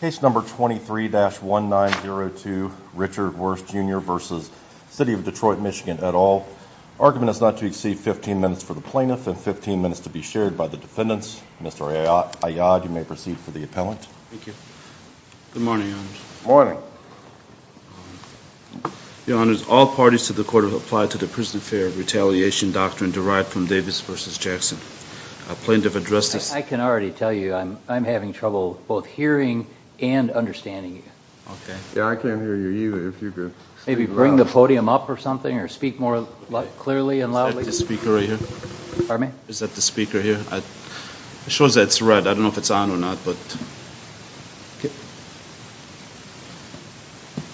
Case number 23-1902 Richard Wershe Jr v. City of Detroit MI et al. Argument is not to exceed 15 minutes for the plaintiff and 15 minutes to be shared by the defendants. Mr. Ayad, you may proceed for the appellant. Good morning, Your Honor. Good morning. Your Honor, all parties to the court have applied to the Prison Affair Retaliation Doctrine derived from Davis v. Jackson. A plaintiff addressed this... I can already tell you I'm having trouble both hearing and understanding you. Yeah, I can't hear you either. If you could... Maybe bring the podium up or something or speak more clearly and loudly? Is that the speaker right here? Pardon me? Is that the speaker here? It shows that it's red. I don't know if it's on or not, but...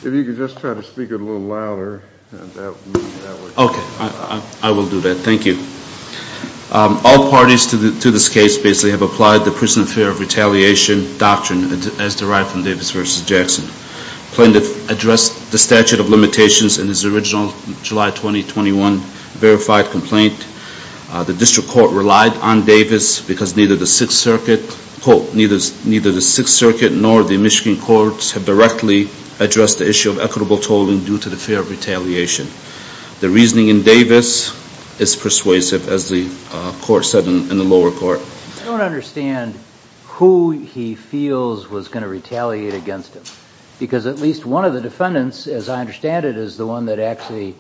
If you could just try to speak a little louder. Okay, I will do that. Thank you. All parties to this case basically have applied the Prison Affair Retaliation Doctrine as derived from Davis v. Jackson. Plaintiff addressed the statute of limitations in his original July 2021 verified complaint. The district court relied on Davis because neither the Sixth Circuit, quote, neither the Sixth Circuit nor the Michigan courts have directly addressed the issue of equitable tolling due to the fear of retaliation. The reasoning in Davis is persuasive, as the court said in the lower court. I don't understand who he feels was going to retaliate against him. Because at least one of the defendants, as I understand it, is the one that actually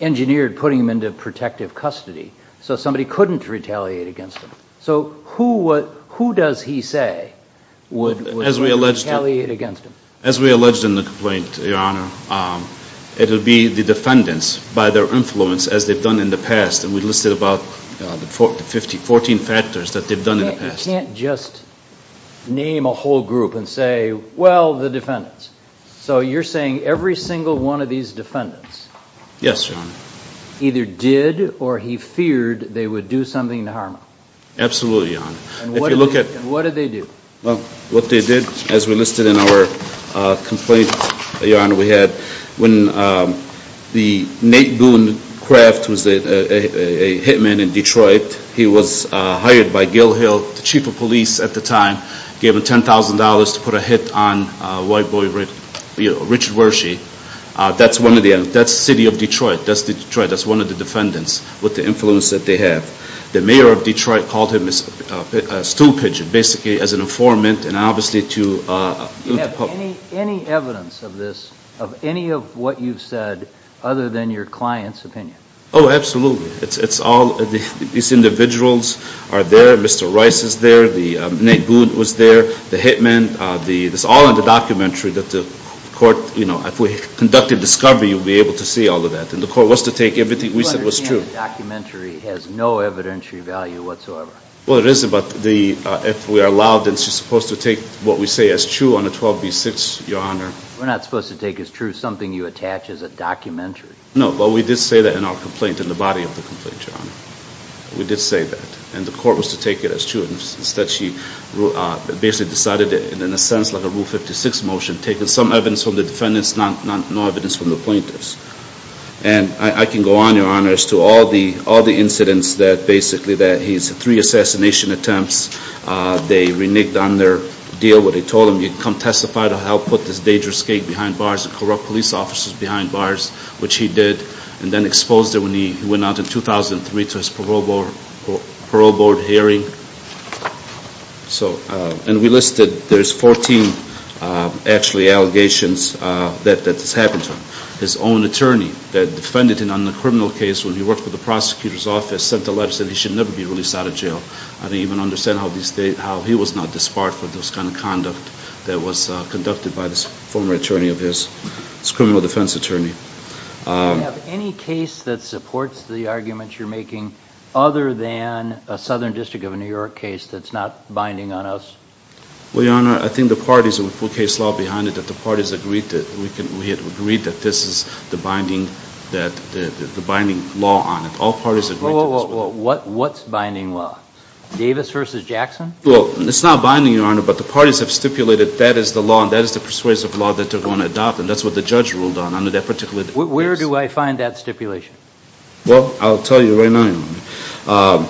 engineered putting him into protective custody. So somebody couldn't retaliate against him. So who does he say would retaliate against him? As we alleged in the complaint, Your Honor, it would be the defendants by their influence as they've done in the past. And we listed about 14 factors that they've done in the past. You can't just name a whole group and say, well, the defendants. So you're saying every single one of these defendants either did or he feared they would do something to harm him. Absolutely, Your Honor. And what did they do? Well, what they did, as we listed in our complaint, Your Honor, we had when Nate Boone Kraft was a hitman in Detroit, he was hired by Gil Hill, the chief of police at the time, gave him $10,000 to put a hit on white boy Richard Wershey. That's the city of Detroit. That's Detroit. That's one of the defendants with the influence that they have. The mayor of Detroit called him a stool pigeon, basically as an informant and obviously to the public. Do you have any evidence of this, of any of what you've said, other than your client's opinion? Oh, absolutely. It's all these individuals are there. Mr. Rice is there. Nate Boone was there. The hitman. It's all in the documentary that the court, you know, if we conducted discovery, you'll be able to see all of that. And the court was to take everything we said was true. A documentary has no evidentiary value whatsoever. Well, it is, but if we are allowed, then she's supposed to take what we say is true on a 12B6, Your Honor. We're not supposed to take as true something you attach as a documentary. No, but we did say that in our complaint, in the body of the complaint, Your Honor. We did say that, and the court was to take it as true. Instead, she basically decided in a sense like a Rule 56 motion, taking some evidence from the defendants, no evidence from the plaintiffs. And I can go on, Your Honor, as to all the incidents that basically that he's three assassination attempts. They reneged on their deal. What they told him, you come testify to help put this dangerous gate behind bars and corrupt police officers behind bars, which he did. And then exposed it when he went out in 2003 to his parole board hearing. So, and we listed, there's 14 actually allegations that this happened to him. His own attorney that defended him on the criminal case when he worked for the prosecutor's office sent a letter saying he should never be released out of jail. I don't even understand how he was not disbarred for this kind of conduct that was conducted by this former attorney of his, this criminal defense attorney. Do you have any case that supports the arguments you're making other than a Southern District of New York case that's not binding on us? Well, Your Honor, I think the parties and the full case law behind it, that the parties agreed to it. We had agreed that this is the binding law on it. All parties agreed to this. Well, what's binding law? Davis versus Jackson? Well, it's not binding, Your Honor, but the parties have stipulated that is the law and that is the persuasive law that they're going to adopt. And that's what the judge ruled on under that particular case. Where do I find that stipulation? Well, I'll tell you right now, Your Honor.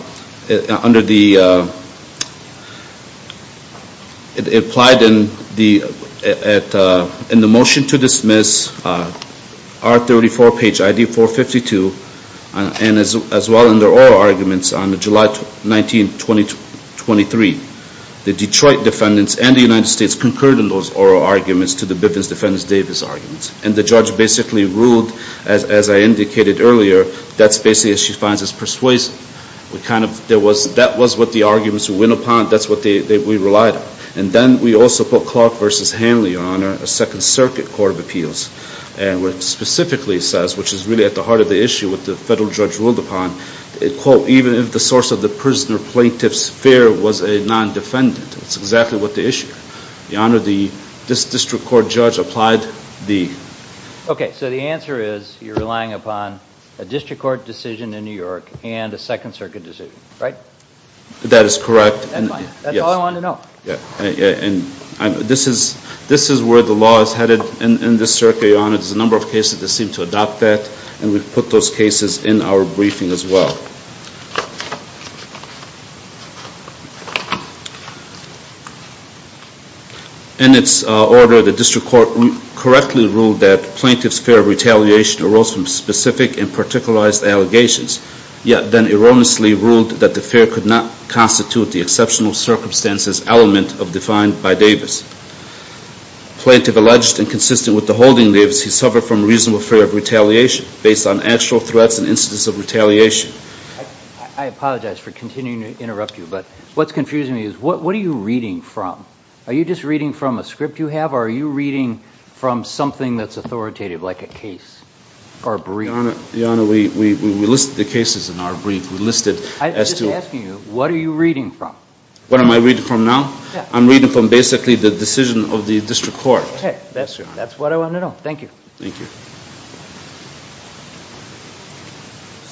Under the, it applied in the motion to dismiss R34 page ID 452 and as well in the oral arguments on July 19, 2023. The Detroit defendants and the United States concurred in those oral arguments to the Bivens-Defendants-Davis arguments. And the judge basically ruled, as I indicated earlier, that's basically, as she finds, is persuasive. We kind of, there was, that was what the arguments went upon. That's what we relied on. And then we also put Clark versus Hanley, Your Honor, a Second Circuit Court of Appeals. And what it specifically says, which is really at the heart of the issue, what the federal judge ruled upon, quote, even if the source of the prisoner plaintiff's fear was a non-defendant. That's exactly what the issue. Your Honor, this district court judge applied the. Okay, so the answer is you're relying upon a district court decision in New York and a Second Circuit decision, right? That is correct. That's all I wanted to know. And this is where the law is headed in this circuit, Your Honor. There's a number of cases that seem to adopt that, and we put those cases in our briefing as well. In its order, the district court correctly ruled that plaintiff's fear of retaliation arose from specific and particularized allegations, yet then erroneously ruled that the fear could not constitute the exceptional circumstances element defined by Davis. Plaintiff alleged and consistent with the holding Davis, he suffered from reasonable fear of retaliation based on actual threats and instances of retaliation. I apologize for continuing to interrupt you, but what's confusing me is what are you reading from? Are you just reading from a script you have, or are you reading from something that's authoritative like a case or a brief? Your Honor, we listed the cases in our brief. I'm just asking you, what are you reading from? What am I reading from now? Yeah. I'm reading from basically the decision of the district court. Okay. That's what I wanted to know. Thank you. Thank you.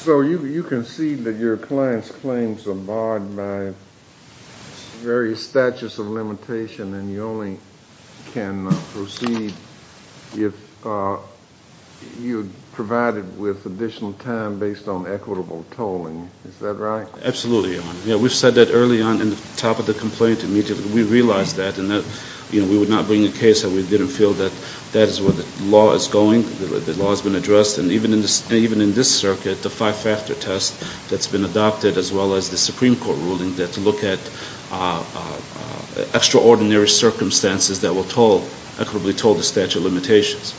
So you concede that your client's claims are barred by various statutes of limitation, and you only can proceed if you're provided with additional time based on equitable tolling. Is that right? Absolutely, Your Honor. We've said that early on in the top of the complaint immediately. We realize that, and we would not bring a case that we didn't feel that that is where the law is going, the law has been addressed. And even in this circuit, the five-factor test that's been adopted, as well as the Supreme Court ruling, that look at extraordinary circumstances that will toll, equitably toll, the statute of limitations.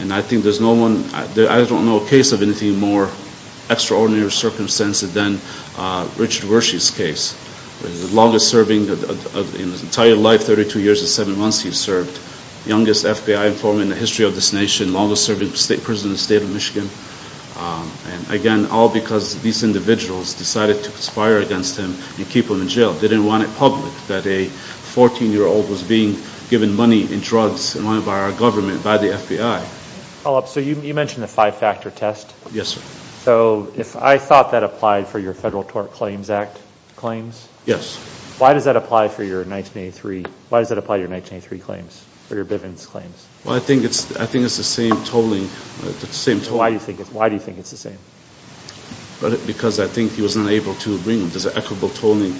And I think there's no one, I don't know a case of anything more extraordinary circumstances than Richard Wershe's case. The longest serving, in his entire life, 32 years and seven months he's served. Youngest FBI informant in the history of this nation. Longest serving state prisoner in the state of Michigan. And again, all because these individuals decided to conspire against him and keep him in jail. They didn't want it public, that a 14-year-old was being given money and drugs and wanted by our government, by the FBI. So you mentioned the five-factor test. Yes, sir. So if I thought that applied for your Federal Tort Claims Act claims. Yes. Why does that apply for your 1983? Why does that apply to your 1983 claims, for your Bivens claims? Well, I think it's the same tolling. Why do you think it's the same? Because I think he was unable to bring them. There's an equitable tolling.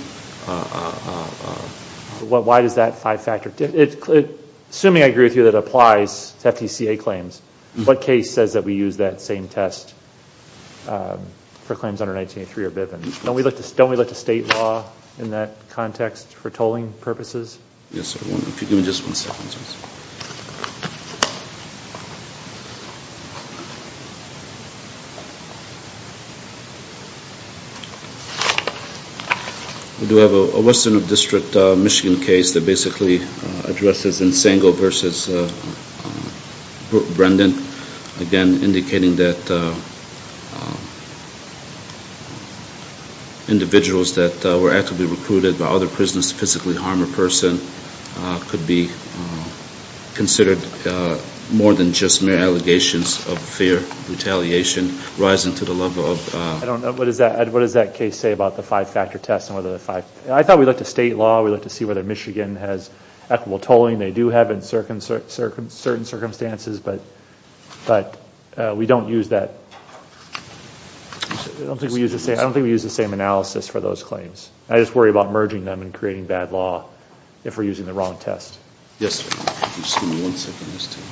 Why does that five-factor? Assuming I agree with you that it applies to FTCA claims, what case says that we use that same test for claims under 1983 or Bivens? Don't we look to state law in that context for tolling purposes? Yes, sir. Give me just one second, please. We do have a Western District, Michigan case that basically addresses Insango v. Brendan, again indicating that individuals that were actively recruited by other prisoners to physically harm a person could be considered more than just mere allegations of fear, retaliation, rising to the level of— I don't know. What does that case say about the five-factor test and whether the five— I thought we looked at state law. We looked to see whether Michigan has equitable tolling. They do have in certain circumstances, but we don't use that. I don't think we use the same analysis for those claims. I just worry about merging them and creating bad law if we're using the wrong test. Yes, sir. Just give me one second.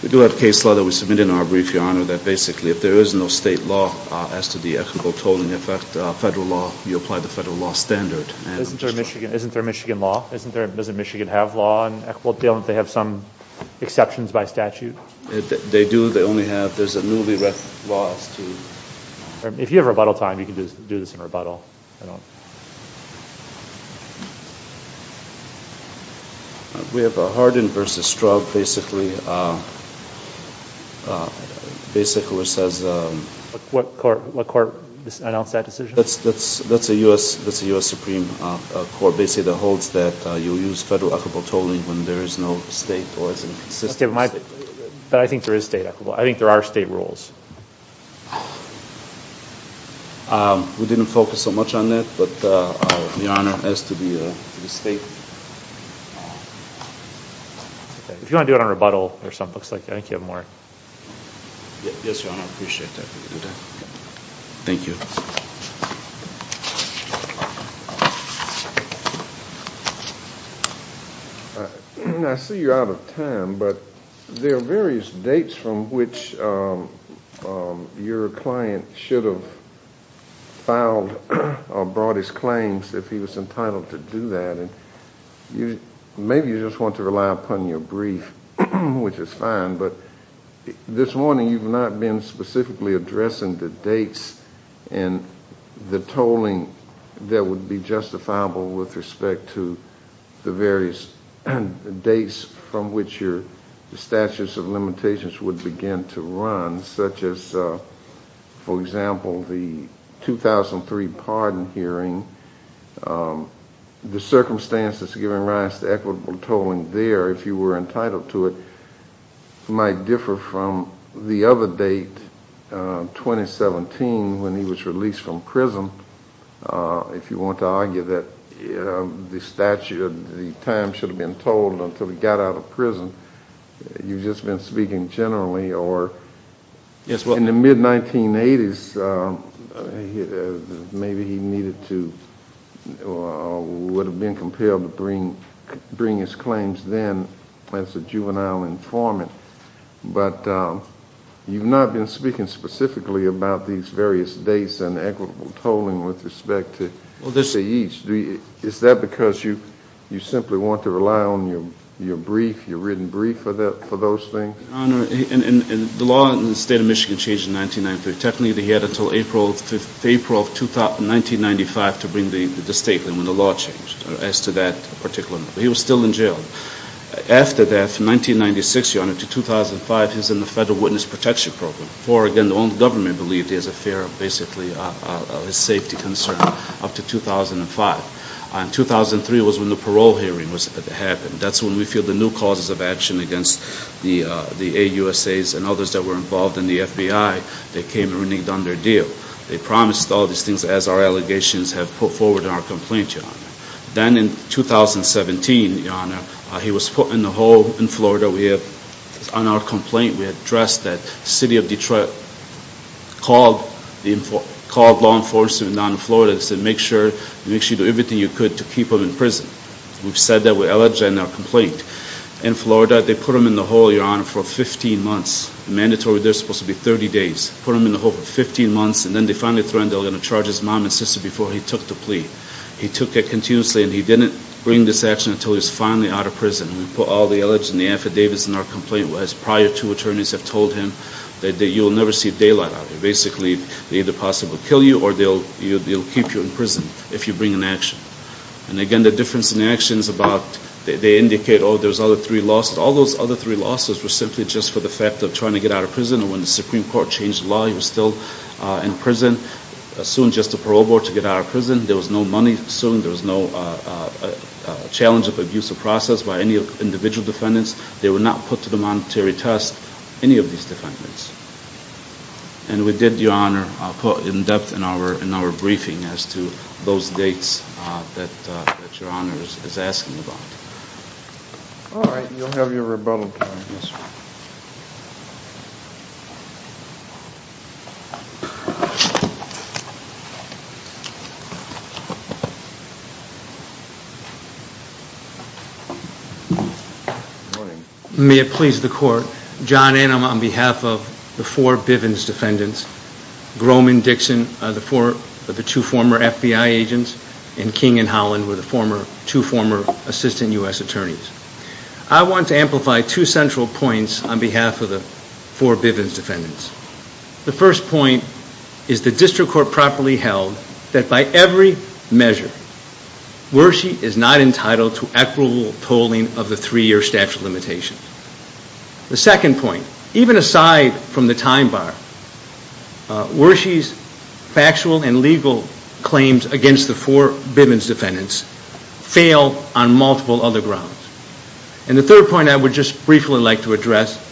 We do have a case law that we submitted in our brief, Your Honor, that basically if there is no state law as to the equitable tolling effect, federal law, you apply the federal law standard. Isn't there a Michigan law? Doesn't Michigan have law on equitable tolling if they have some exceptions by statute? They do. They only have—there's a newly written law as to— If you have rebuttal time, you can do this in rebuttal. I don't— We have Hardin v. Strug basically says— What court announced that decision? That's a U.S. Supreme Court basically that holds that you use federal equitable tolling when there is no state or is inconsistent. But I think there is state equitable. I think there are state rules. We didn't focus so much on that, but Your Honor, as to the state— If you want to do it on rebuttal or something, it looks like you have more. Yes, Your Honor. I appreciate that. Thank you. I see you're out of time, but there are various dates from which your client should have filed or brought his claims if he was entitled to do that. And maybe you just want to rely upon your brief, which is fine. But this morning, you've not been specifically addressing the dates and the tolling that would be justifiable with respect to the various dates from which your statutes of limitations would begin to run, such as, for example, the 2003 pardon hearing, the circumstances giving rise to equitable tolling there if you were entitled to it. It might differ from the other date, 2017, when he was released from prison. If you want to argue that the statute of the time should have been tolled until he got out of prison, you've just been speaking generally. Or in the mid-1980s, maybe he would have been compelled to bring his claims then as a juvenile informant. But you've not been speaking specifically about these various dates and equitable tolling with respect to each. Is that because you simply want to rely on your brief, your written brief, for those things? Your Honor, the law in the State of Michigan changed in 1993. Technically, he had until April of 1995 to bring the statement when the law changed as to that particular. He was still in jail. After that, from 1996, Your Honor, to 2005, he was in the Federal Witness Protection Program. Before, again, the only government believed he was a fear of basically his safety concern up to 2005. In 2003 was when the parole hearing happened. That's when we feel the new causes of action against the AUSAs and others that were involved in the FBI that came and really done their deal. They promised all these things as our allegations have put forward in our complaint, Your Honor. Then in 2017, Your Honor, he was put in the hole in Florida. On our complaint, we addressed that. The city of Detroit called law enforcement down in Florida and said, make sure you do everything you could to keep him in prison. We've said that with our allegation and our complaint. In Florida, they put him in the hole, Your Honor, for 15 months. Mandatory, they're supposed to be 30 days. Put him in the hole for 15 months, and then they finally threw in the line to charge his mom and sister before he took the plea. He took it continuously, and he didn't bring this action until he was finally out of prison. We put all the allegations and the affidavits in our complaint. As prior two attorneys have told him, that you will never see daylight out of it. Basically, they either possibly kill you or they'll keep you in prison if you bring an action. And again, the difference in actions about they indicate, oh, there's other three losses. All those other three losses were simply just for the fact of trying to get out of prison. And when the Supreme Court changed the law, he was still in prison. Soon, just the parole board to get out of prison. There was no money. Soon, there was no challenge of abuse of process by any individual defendants. They were not put to the monetary test, any of these defendants. And we did, Your Honor, put in depth in our briefing as to those dates that Your Honor is asking about. All right. You'll have your rebuttal time. Yes, sir. Good morning. May it please the Court. John Annam on behalf of the four Bivens defendants, Groman, Dixon, the two former FBI agents, and King and Holland were the two former assistant U.S. attorneys. I want to amplify two central points on behalf of the four Bivens defendants. The first point is the district court properly held that by every measure, Wershe is not entitled to equitable tolling of the three-year statute of limitations. The second point, even aside from the time bar, Wershe's factual and legal claims against the four Bivens defendants fail on multiple other grounds. And the third point I would just briefly like to address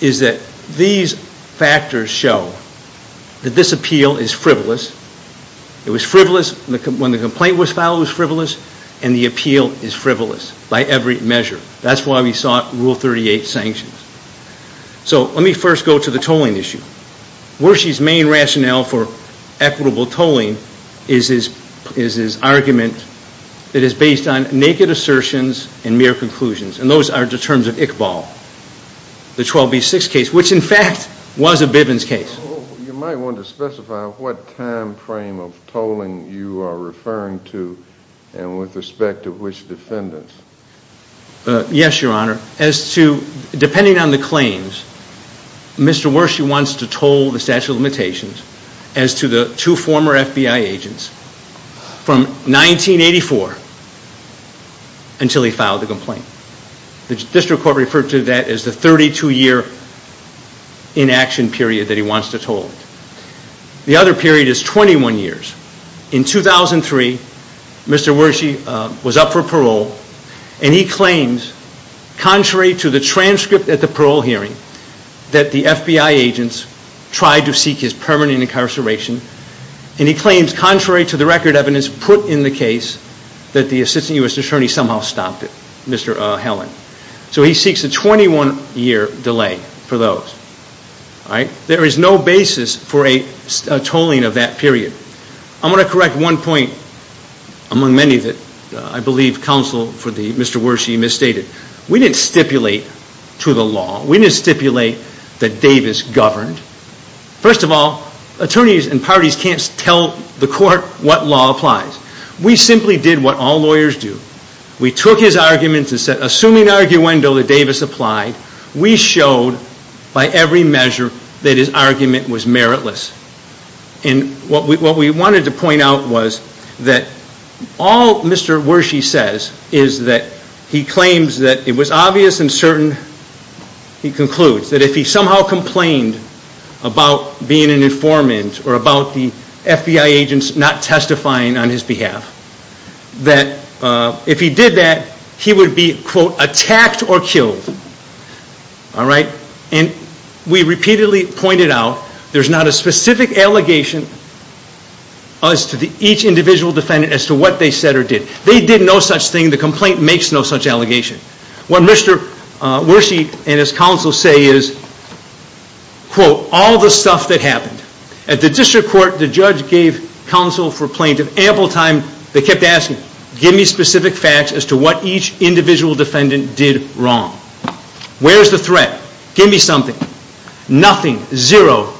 is that these factors show that this appeal is frivolous. It was frivolous when the complaint was filed, it was frivolous, and the appeal is frivolous by every measure. That's why we sought Rule 38 sanctions. So let me first go to the tolling issue. Wershe's main rationale for equitable tolling is his argument that is based on naked assertions and mere conclusions, and those are the terms of Iqbal, the 12B6 case, which in fact was a Bivens case. You might want to specify what time frame of tolling you are referring to and with respect to which defendants. Yes, Your Honor. As to, depending on the claims, Mr. Wershe wants to toll the statute of limitations as to the two former FBI agents from 1984 until he filed the complaint. The district court referred to that as the 32-year inaction period that he wants to toll. The other period is 21 years. In 2003, Mr. Wershe was up for parole, and he claimed, contrary to the transcript at the parole hearing, that the FBI agents tried to seek his permanent incarceration, and he claims, contrary to the record evidence put in the case, that the assistant U.S. attorney somehow stopped it, Mr. Helen. So he seeks a 21-year delay for those. There is no basis for a tolling of that period. I'm going to correct one point among many that I believe counsel for Mr. Wershe misstated. We didn't stipulate to the law. We didn't stipulate that Davis governed. First of all, attorneys and parties can't tell the court what law applies. We simply did what all lawyers do. We took his arguments and said, assuming arguendo that Davis applied, we showed by every measure that his argument was meritless. What we wanted to point out was that all Mr. Wershe says is that he claims that it was obvious and certain, he concludes, that if he somehow complained about being an informant or about the FBI agents not testifying on his behalf, that if he did that, he would be, quote, attacked or killed. All right? And we repeatedly pointed out there's not a specific allegation as to each individual defendant as to what they said or did. They did no such thing. The complaint makes no such allegation. What Mr. Wershe and his counsel say is, quote, all the stuff that happened. At the district court, the judge gave counsel for plaintiff ample time. They kept asking, give me specific facts as to what each individual defendant did wrong. Where's the threat? Give me something. Nothing. Zero.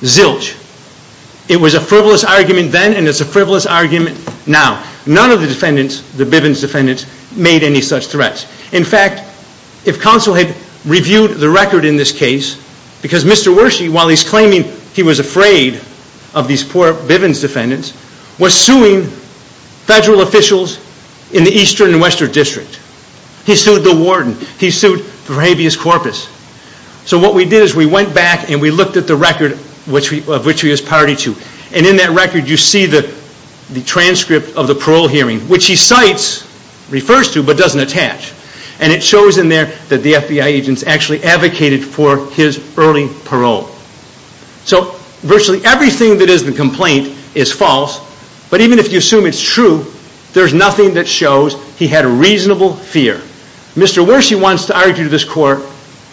Zilch. It was a frivolous argument then and it's a frivolous argument now. None of the defendants, the Bivens defendants, made any such threats. In fact, if counsel had reviewed the record in this case, because Mr. Wershe, while he's claiming he was afraid of these poor Bivens defendants, was suing federal officials in the eastern and western district. He sued the warden. He sued for habeas corpus. So what we did is we went back and we looked at the record of which he was party to. And in that record, you see the transcript of the parole hearing, which he cites, refers to, but doesn't attach. And it shows in there that the FBI agents actually advocated for his early parole. So virtually everything that is in the complaint is false. But even if you assume it's true, there's nothing that shows he had a reasonable fear. Mr. Wershe wants to argue to this court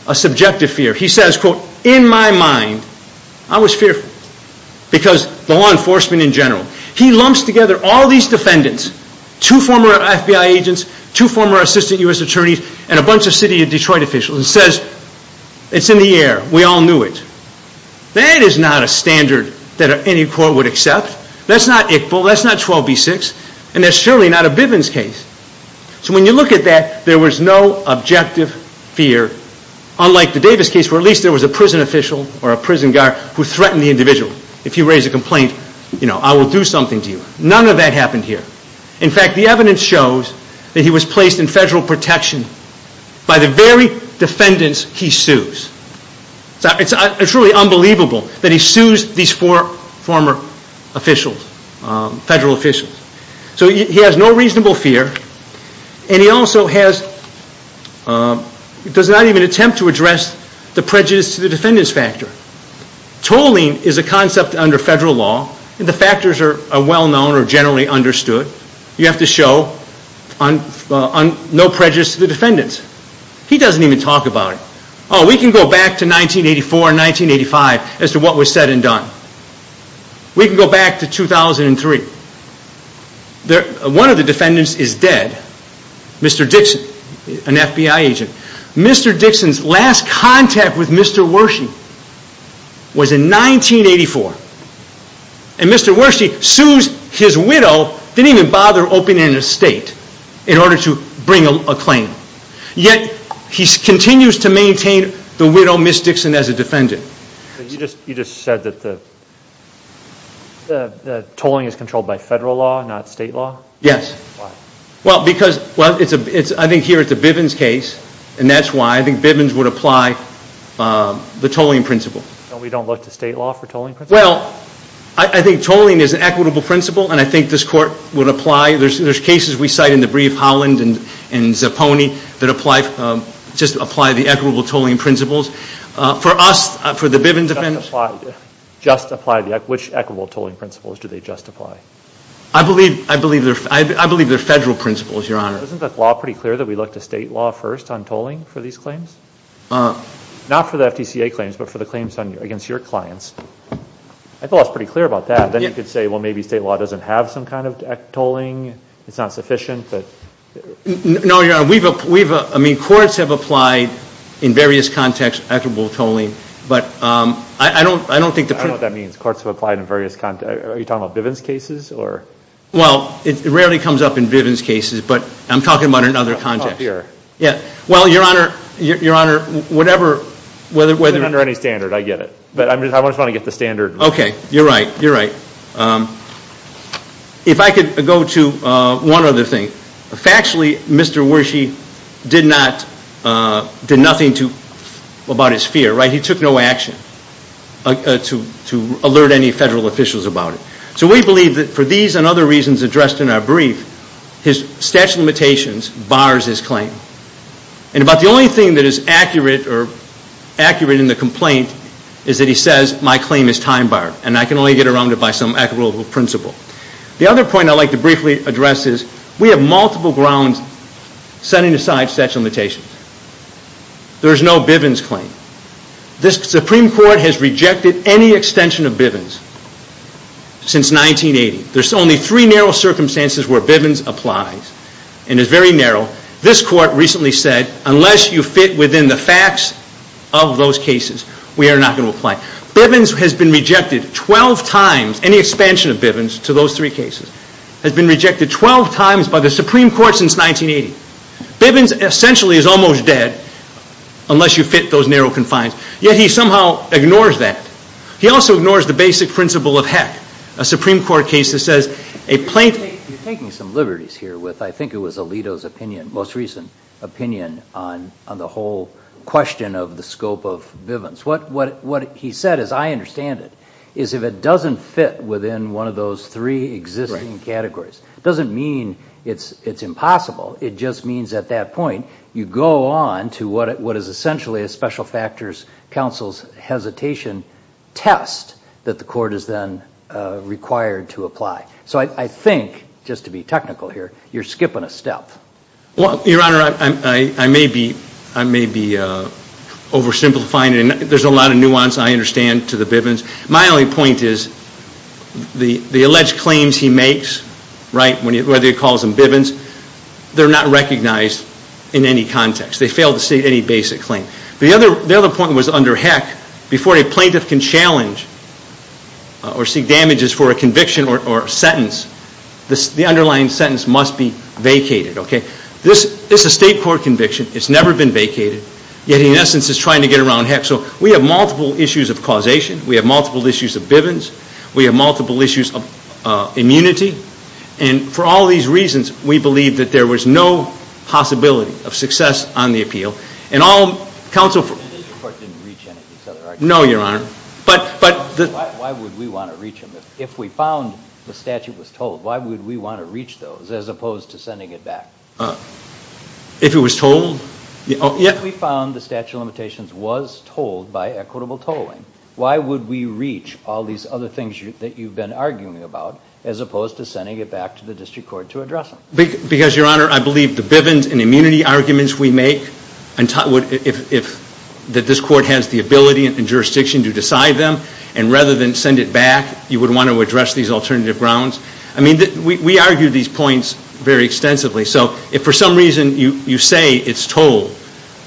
a subjective fear. He says, quote, in my mind, I was fearful. Because the law enforcement in general. He lumps together all these defendants, two former FBI agents, two former assistant U.S. attorneys, and a bunch of city of Detroit officials and says, it's in the air. We all knew it. That is not a standard that any court would accept. That's not ICPO. That's not 12B6. And that's surely not a Bivens case. So when you look at that, there was no objective fear, unlike the Davis case, where at least there was a prison official or a prison guard who threatened the individual. If you raise a complaint, you know, I will do something to you. None of that happened here. In fact, the evidence shows that he was placed in federal protection by the very defendants he sues. It's truly unbelievable that he sues these four former officials, federal officials. So he has no reasonable fear. And he also does not even attempt to address the prejudice to the defendants factor. Tolling is a concept under federal law, and the factors are well known or generally understood. You have to show no prejudice to the defendants. He doesn't even talk about it. Oh, we can go back to 1984 and 1985 as to what was said and done. We can go back to 2003. One of the defendants is dead, Mr. Dixon, an FBI agent. Mr. Dixon's last contact with Mr. Wershe was in 1984. And Mr. Wershe sues his widow, didn't even bother opening an estate in order to bring a claim. Yet he continues to maintain the widow, Ms. Dixon, as a defendant. You just said that the tolling is controlled by federal law, not state law? Yes. Why? Well, I think here it's a Bivens case, and that's why. I think Bivens would apply the tolling principle. We don't look to state law for tolling principles? Well, I think tolling is an equitable principle, and I think this court would apply. There's cases we cite in the brief, Holland and Zapponi, that just apply the equitable tolling principles. For us, for the Bivens defendants. Which equitable tolling principles do they just apply? I believe they're federal principles, Your Honor. Isn't the law pretty clear that we look to state law first on tolling for these claims? Not for the FTCA claims, but for the claims against your clients. I thought I was pretty clear about that. Then you could say, well, maybe state law doesn't have some kind of tolling. It's not sufficient. No, Your Honor. I mean, courts have applied, in various contexts, equitable tolling. But I don't think the principle— I don't know what that means. Courts have applied in various contexts. Are you talking about Bivens cases? Well, it rarely comes up in Bivens cases, but I'm talking about it in other contexts. Well, Your Honor, whatever— It's not under any standard, I get it. But I just want to get the standard right. Okay, you're right, you're right. If I could go to one other thing. Factually, Mr. Wershe did nothing about his fear, right? He took no action to alert any federal officials about it. So we believe that for these and other reasons addressed in our brief, his statute of limitations bars his claim. And about the only thing that is accurate or accurate in the complaint is that he says, my claim is time-barred, and I can only get around it by some equitable principle. The other point I'd like to briefly address is, we have multiple grounds setting aside statute of limitations. There is no Bivens claim. This Supreme Court has rejected any extension of Bivens since 1980. There's only three narrow circumstances where Bivens applies. And it's very narrow. This Court recently said, unless you fit within the facts of those cases, we are not going to apply. Bivens has been rejected 12 times, any expansion of Bivens to those three cases, has been rejected 12 times by the Supreme Court since 1980. Bivens essentially is almost dead unless you fit those narrow confines. Yet he somehow ignores that. He also ignores the basic principle of heck. A Supreme Court case that says a plaintiff... You're taking some liberties here with, I think it was Alito's opinion, most recent opinion on the whole question of the scope of Bivens. What he said, as I understand it, is if it doesn't fit within one of those three existing categories, it doesn't mean it's impossible. It just means at that point you go on to what is essentially a special factors counsel's hesitation test that the Court is then required to apply. So I think, just to be technical here, you're skipping a step. Your Honor, I may be oversimplifying it. There's a lot of nuance I understand to the Bivens. My only point is the alleged claims he makes, whether he calls them Bivens, they're not recognized in any context. They fail to state any basic claim. The other point was under heck. Before a plaintiff can challenge or seek damages for a conviction or sentence, the underlying sentence must be vacated. This is a State Court conviction. It's never been vacated. Yet, in essence, it's trying to get around heck. So we have multiple issues of causation. We have multiple issues of Bivens. We have multiple issues of immunity. And for all these reasons, we believe that there was no possibility of success on the appeal. And all counsel for- The Court didn't reach any of these other arguments. No, Your Honor. Why would we want to reach them? If we found the statute was told, why would we want to reach those as opposed to sending it back? If it was told? If we found the statute of limitations was told by equitable tolling, why would we reach all these other things that you've been arguing about as opposed to sending it back to the District Court to address them? Because, Your Honor, I believe the Bivens and immunity arguments we make, that this Court has the ability and jurisdiction to decide them, and rather than send it back, you would want to address these alternative grounds. I mean, we argue these points very extensively. So if for some reason you say it's told,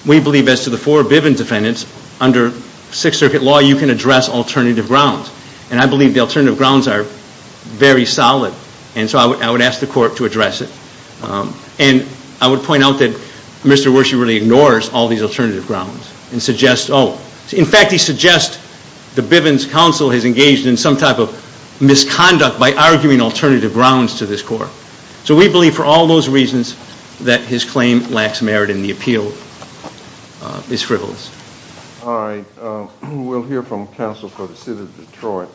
we believe as to the four Bivens defendants, under Sixth Circuit law, you can address alternative grounds. And I believe the alternative grounds are very solid, and so I would ask the Court to address it. And I would point out that Mr. Wershe really ignores all these alternative grounds and suggests, oh, in fact, he suggests the Bivens counsel has engaged in some type of misconduct by arguing alternative grounds to this Court. So we believe for all those reasons that his claim lacks merit in the appeal is frivolous. All right. We'll hear from counsel for the City of Detroit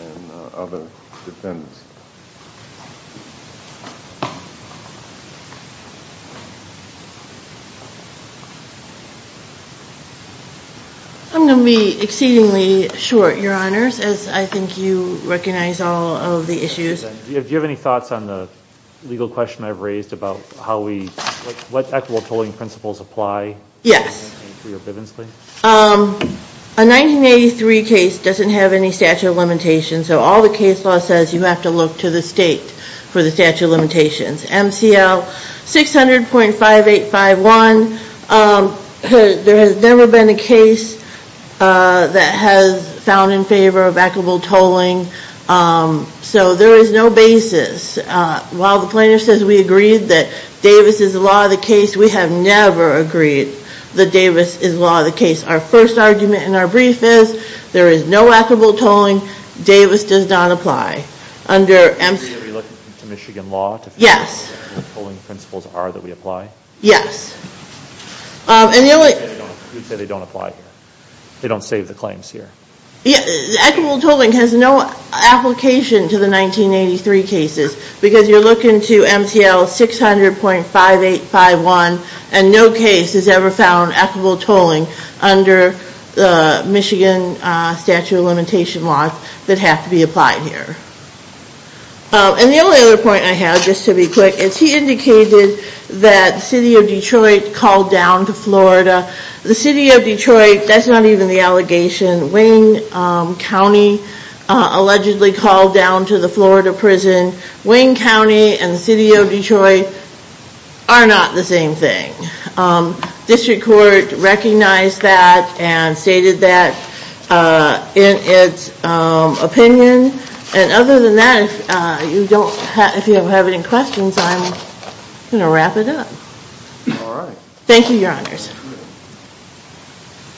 and other defendants. I'm going to be exceedingly short, Your Honors, as I think you recognize all of the issues. Do you have any thoughts on the legal question I've raised about how we, what equitable tolling principles apply? Yes. A 1983 case doesn't have any statute of limitations, so all the case law says you have to look to the state for the statute of limitations. MCL 600.5851. There has never been a case that has found in favor of equitable tolling. So there is no basis. While the plaintiff says we agreed that Davis is the law of the case, we have never agreed that Davis is law of the case. Our first argument in our brief is there is no equitable tolling. Davis does not apply. Under MCL... Are you looking to Michigan law to figure out what the tolling principles are that we apply? Yes. And the only... You'd say they don't apply here. They don't save the claims here. Equitable tolling has no application to the 1983 cases because you're looking to MCL 600.5851, and no case has ever found equitable tolling under the Michigan statute of limitation laws that have to be applied here. And the only other point I have, just to be quick, is he indicated that the city of Detroit called down to Florida. The city of Detroit, that's not even the allegation. Wayne County allegedly called down to the Florida prison. Wayne County and the city of Detroit are not the same thing. District Court recognized that and stated that in its opinion. And other than that, if you have any questions, I'm going to wrap it up. All right. Thank you, Your Honors.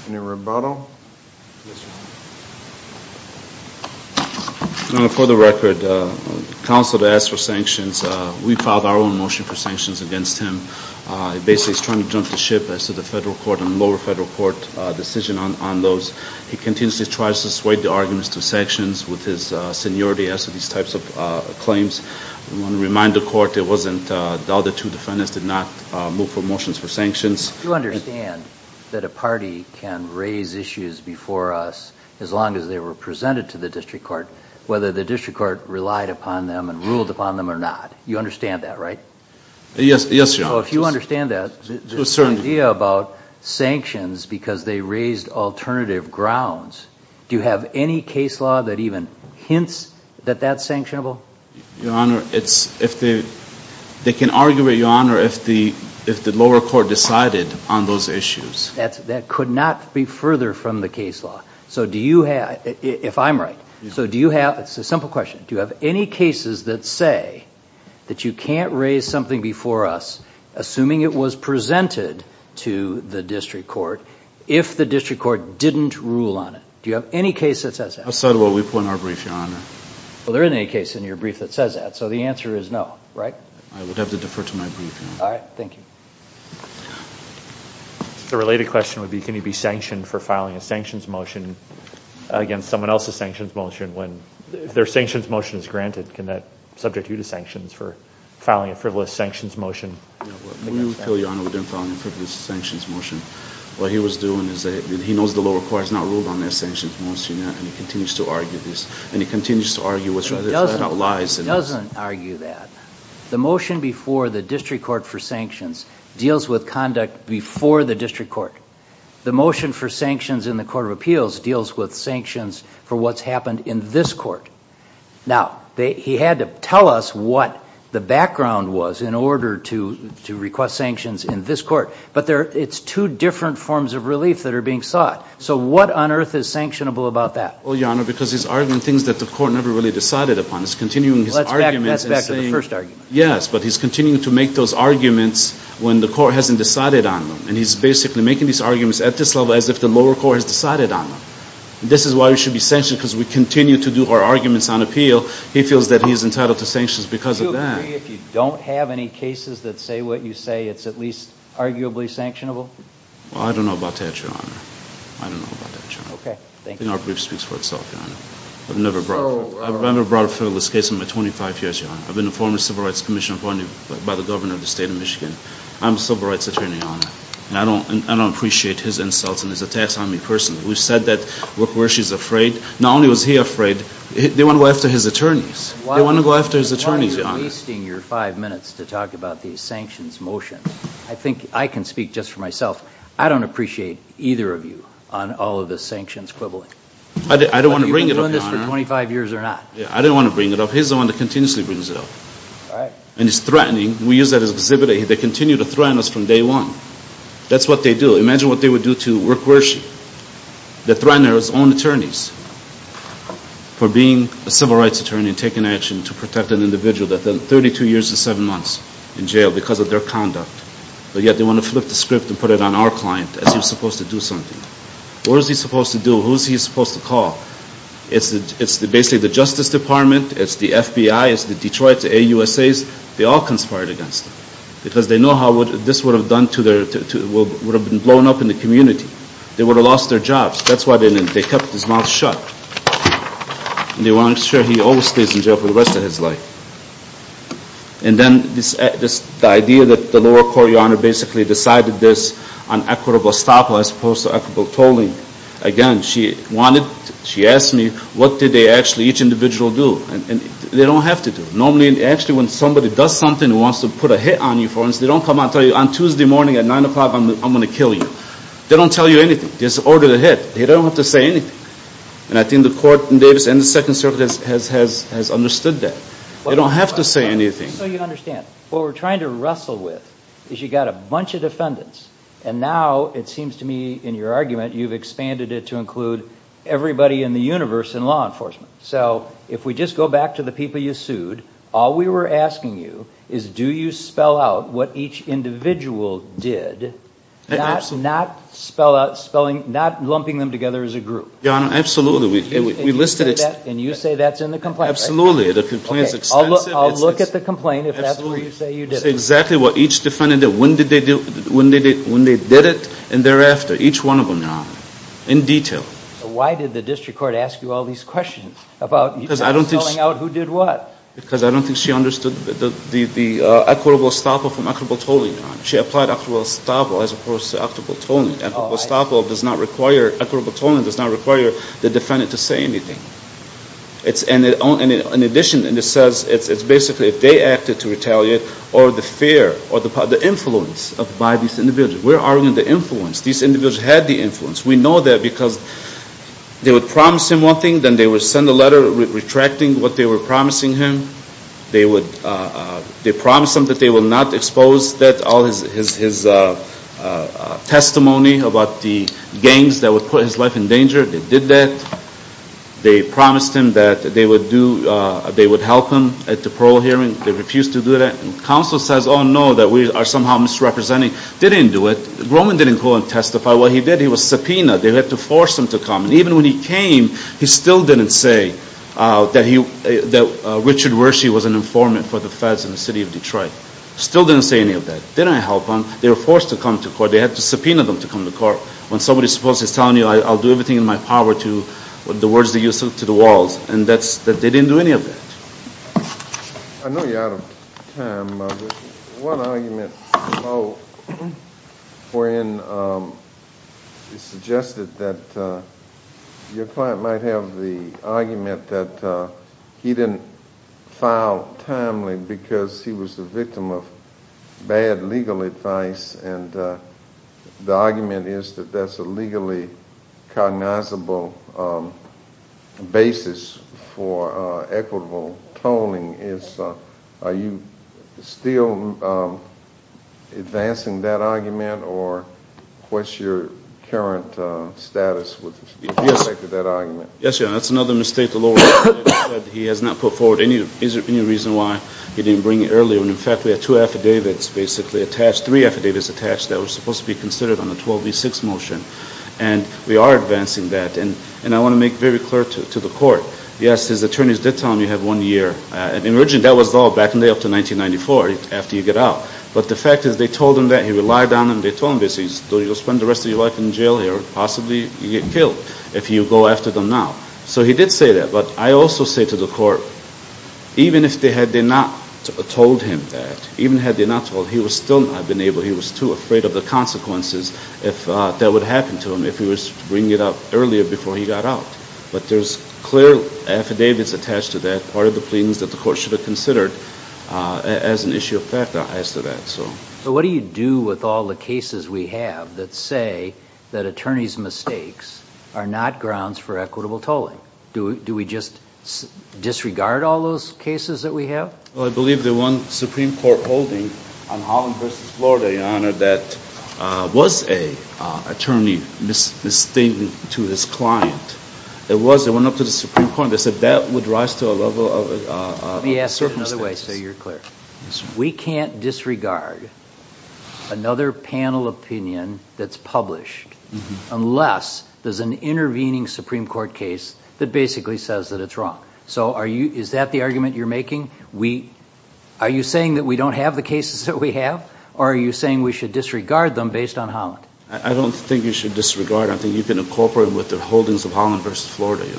Any rebuttal? Yes, Your Honor. Your Honor, for the record, the counsel that asked for sanctions, we filed our own motion for sanctions against him. Basically, he's trying to jump the ship as to the federal court and lower federal court decision on those. He continuously tries to sway the arguments to sanctions with his seniority as to these types of claims. I want to remind the court it wasn't... The other two defendants did not move for motions for sanctions. You understand that a party can raise issues before us, as long as they were presented to the district court, whether the district court relied upon them and ruled upon them or not. You understand that, right? Yes, Your Honor. If you understand that, the idea about sanctions because they raised alternative grounds, do you have any case law that even hints that that's sanctionable? Your Honor, it's... They can argue it, Your Honor, if the lower court decided on those issues. That could not be further from the case law. So do you have... If I'm right. So do you have... It's a simple question. Do you have any cases that say that you can't raise something before us, assuming it was presented to the district court, if the district court didn't rule on it? Do you have any case that says that? I said what we put in our brief, Your Honor. Well, there isn't any case in your brief that says that. So the answer is no, right? I would have to defer to my brief, Your Honor. All right. Thank you. The related question would be, can he be sanctioned for filing a sanctions motion against someone else's sanctions motion when their sanctions motion is granted? Can that substitute a sanctions for filing a frivolous sanctions motion? We would appeal, Your Honor, within filing a frivolous sanctions motion. What he was doing is that he knows the lower court has not ruled on that sanctions motion yet, and he continues to argue this. And he continues to argue whether it's about lies. He doesn't argue that. The motion before the district court for sanctions deals with conduct before the district court. The motion for sanctions in the Court of Appeals deals with sanctions for what's happened in this court. Now, he had to tell us what the background was in order to request sanctions in this court. But it's two different forms of relief that are being sought. So what on earth is sanctionable about that? Well, Your Honor, because he's arguing things that the court never really decided upon. He's continuing his arguments. Well, that's back to the first argument. Yes. But he's continuing to make those arguments when the court hasn't decided on them. And he's basically making these arguments at this level as if the lower court has decided on them. This is why we should be sanctioned because we continue to do our arguments on appeal. He feels that he's entitled to sanctions because of that. Do you agree if you don't have any cases that say what you say, it's at least arguably sanctionable? Well, I don't know about that, Your Honor. I don't know about that, Your Honor. Okay. Thank you. I think our belief speaks for itself, Your Honor. I've never brought a federalist case in my 25 years, Your Honor. I've been a former civil rights commissioner appointed by the governor of the state of Michigan. I'm a civil rights attorney, Your Honor. And I don't appreciate his insults and his attacks on me personally. We've said that where she's afraid, not only was he afraid, they want to go after his attorneys. They want to go after his attorneys, Your Honor. Why are you wasting your five minutes to talk about the sanctions motion? I think I can speak just for myself. I don't appreciate either of you on all of the sanctions quibbling. I don't want to bring it up, Your Honor. Are you doing this for 25 years or not? I don't want to bring it up. He's the one that continuously brings it up. All right. And he's threatening. We use that as an exhibit. They continue to threaten us from day one. That's what they do. Imagine what they would do to work worship. They threaten their own attorneys for being a civil rights attorney and taking action to protect an individual that's been 32 years and seven months in jail because of their conduct. But yet they want to flip the script and put it on our client as he was supposed to do something. What was he supposed to do? Who is he supposed to call? It's basically the Justice Department. It's the FBI. It's the Detroit, the AUSAs. They all conspired against him because they know this would have been blown up in the community. They would have lost their jobs. That's why they kept his mouth shut. They want to make sure he always stays in jail for the rest of his life. And then the idea that the lower court, Your Honor, basically decided this on equitable estoppel as opposed to equitable tolling. Again, she asked me what did they actually, each individual, do. They don't have to do it. Normally, actually, when somebody does something and wants to put a hit on you, for instance, they don't come out and tell you, on Tuesday morning at 9 o'clock I'm going to kill you. They don't tell you anything. Just order the hit. They don't have to say anything. And I think the court in Davis and the Second Circuit has understood that. They don't have to say anything. Just so you understand, what we're trying to wrestle with is you've got a bunch of defendants, and now it seems to me in your argument you've expanded it to include everybody in the universe in law enforcement. So if we just go back to the people you sued, all we were asking you is do you spell out what each individual did, not lumping them together as a group. Your Honor, absolutely. We listed it. And you say that's in the complaint. Absolutely. The complaint is extensive. I'll look at the complaint if that's where you say you did it. It's exactly what each defendant did, when they did it, and thereafter, each one of them, Your Honor, in detail. Why did the district court ask you all these questions about spelling out who did what? Because I don't think she understood the equitable estoppel from equitable tolling, Your Honor. She applied equitable estoppel as opposed to equitable tolling. Equitable estoppel does not require, equitable tolling does not require the defendant to say anything. In addition, it says it's basically if they acted to retaliate or the fear or the influence by these individuals. We're arguing the influence. These individuals had the influence. We know that because they would promise him one thing, then they would send a letter retracting what they were promising him. They promised him that they would not expose all his testimony about the gangs that would put his life in danger. They did that. They promised him that they would help him at the parole hearing. They refused to do that. And counsel says, oh, no, that we are somehow misrepresenting. They didn't do it. Grohman didn't go and testify. What he did, he was subpoenaed. They had to force him to come. And even when he came, he still didn't say that Richard Wershe was an informant for the feds in the city of Detroit. Still didn't say any of that. Didn't help him. They were forced to come to court. They had to subpoena them to come to court. When somebody is supposed to be telling you, I'll do everything in my power to the words that you sent to the walls, and they didn't do any of that. I know you're out of time. One argument below, wherein it's suggested that your client might have the argument that he didn't file timely because he was the victim of bad legal advice, and the argument is that that's a legally cognizable basis for equitable tolling. Are you still advancing that argument, or what's your current status with respect to that argument? Yes, Your Honor. That's another mistake the lawyer said. He has not put forward any reason why he didn't bring it earlier. In fact, we have two affidavits basically attached, three affidavits attached that were supposed to be considered on the 12B6 motion. And we are advancing that. And I want to make very clear to the court, yes, his attorneys did tell him he had one year. Originally, that was all back in the day up to 1994 after you get out. But the fact is they told him that. He relied on them. They told him, basically, you'll spend the rest of your life in jail here. Possibly you'll get killed if you go after them now. So he did say that. But I also say to the court, even if they had not told him that, even had they not told him, he was still not enabled. He was too afraid of the consequences that would happen to him if he was bringing it up earlier before he got out. But there's clear affidavits attached to that, part of the pleadings that the court should have considered as an issue of fact as to that. So what do you do with all the cases we have that say that attorneys' mistakes are not grounds for equitable tolling? Do we just disregard all those cases that we have? Well, I believe the one Supreme Court holding on Holland v. Florida, Your Honor, that was an attorney mistaken to his client. It was. It went up to the Supreme Court. They said that would rise to a level of misstatements. Let me ask it another way so you're clear. We can't disregard another panel opinion that's published unless there's an intervening Supreme Court case that basically says that it's wrong. So is that the argument you're making? Are you saying that we don't have the cases that we have? Or are you saying we should disregard them based on Holland? I don't think you should disregard them. I think you can incorporate them with the holdings of Holland v. Florida, Your Honor.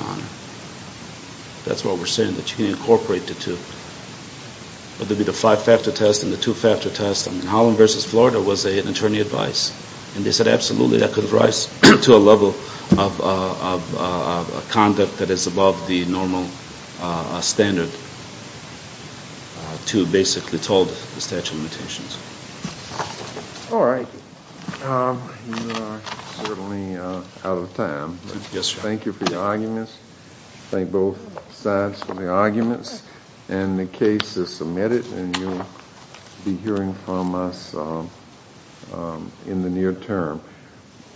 That's what we're saying, that you can incorporate the two. Whether it be the five-factor test and the two-factor test, Holland v. Florida was an attorney's advice. And they said absolutely that could rise to a level of conduct that is above the normal standard to basically toll the statute of limitations. All right. You and I are certainly out of time. Yes, Your Honor. Thank you for your arguments. Thank both sides for the arguments. And the case is submitted, and you'll be hearing from us in the near term.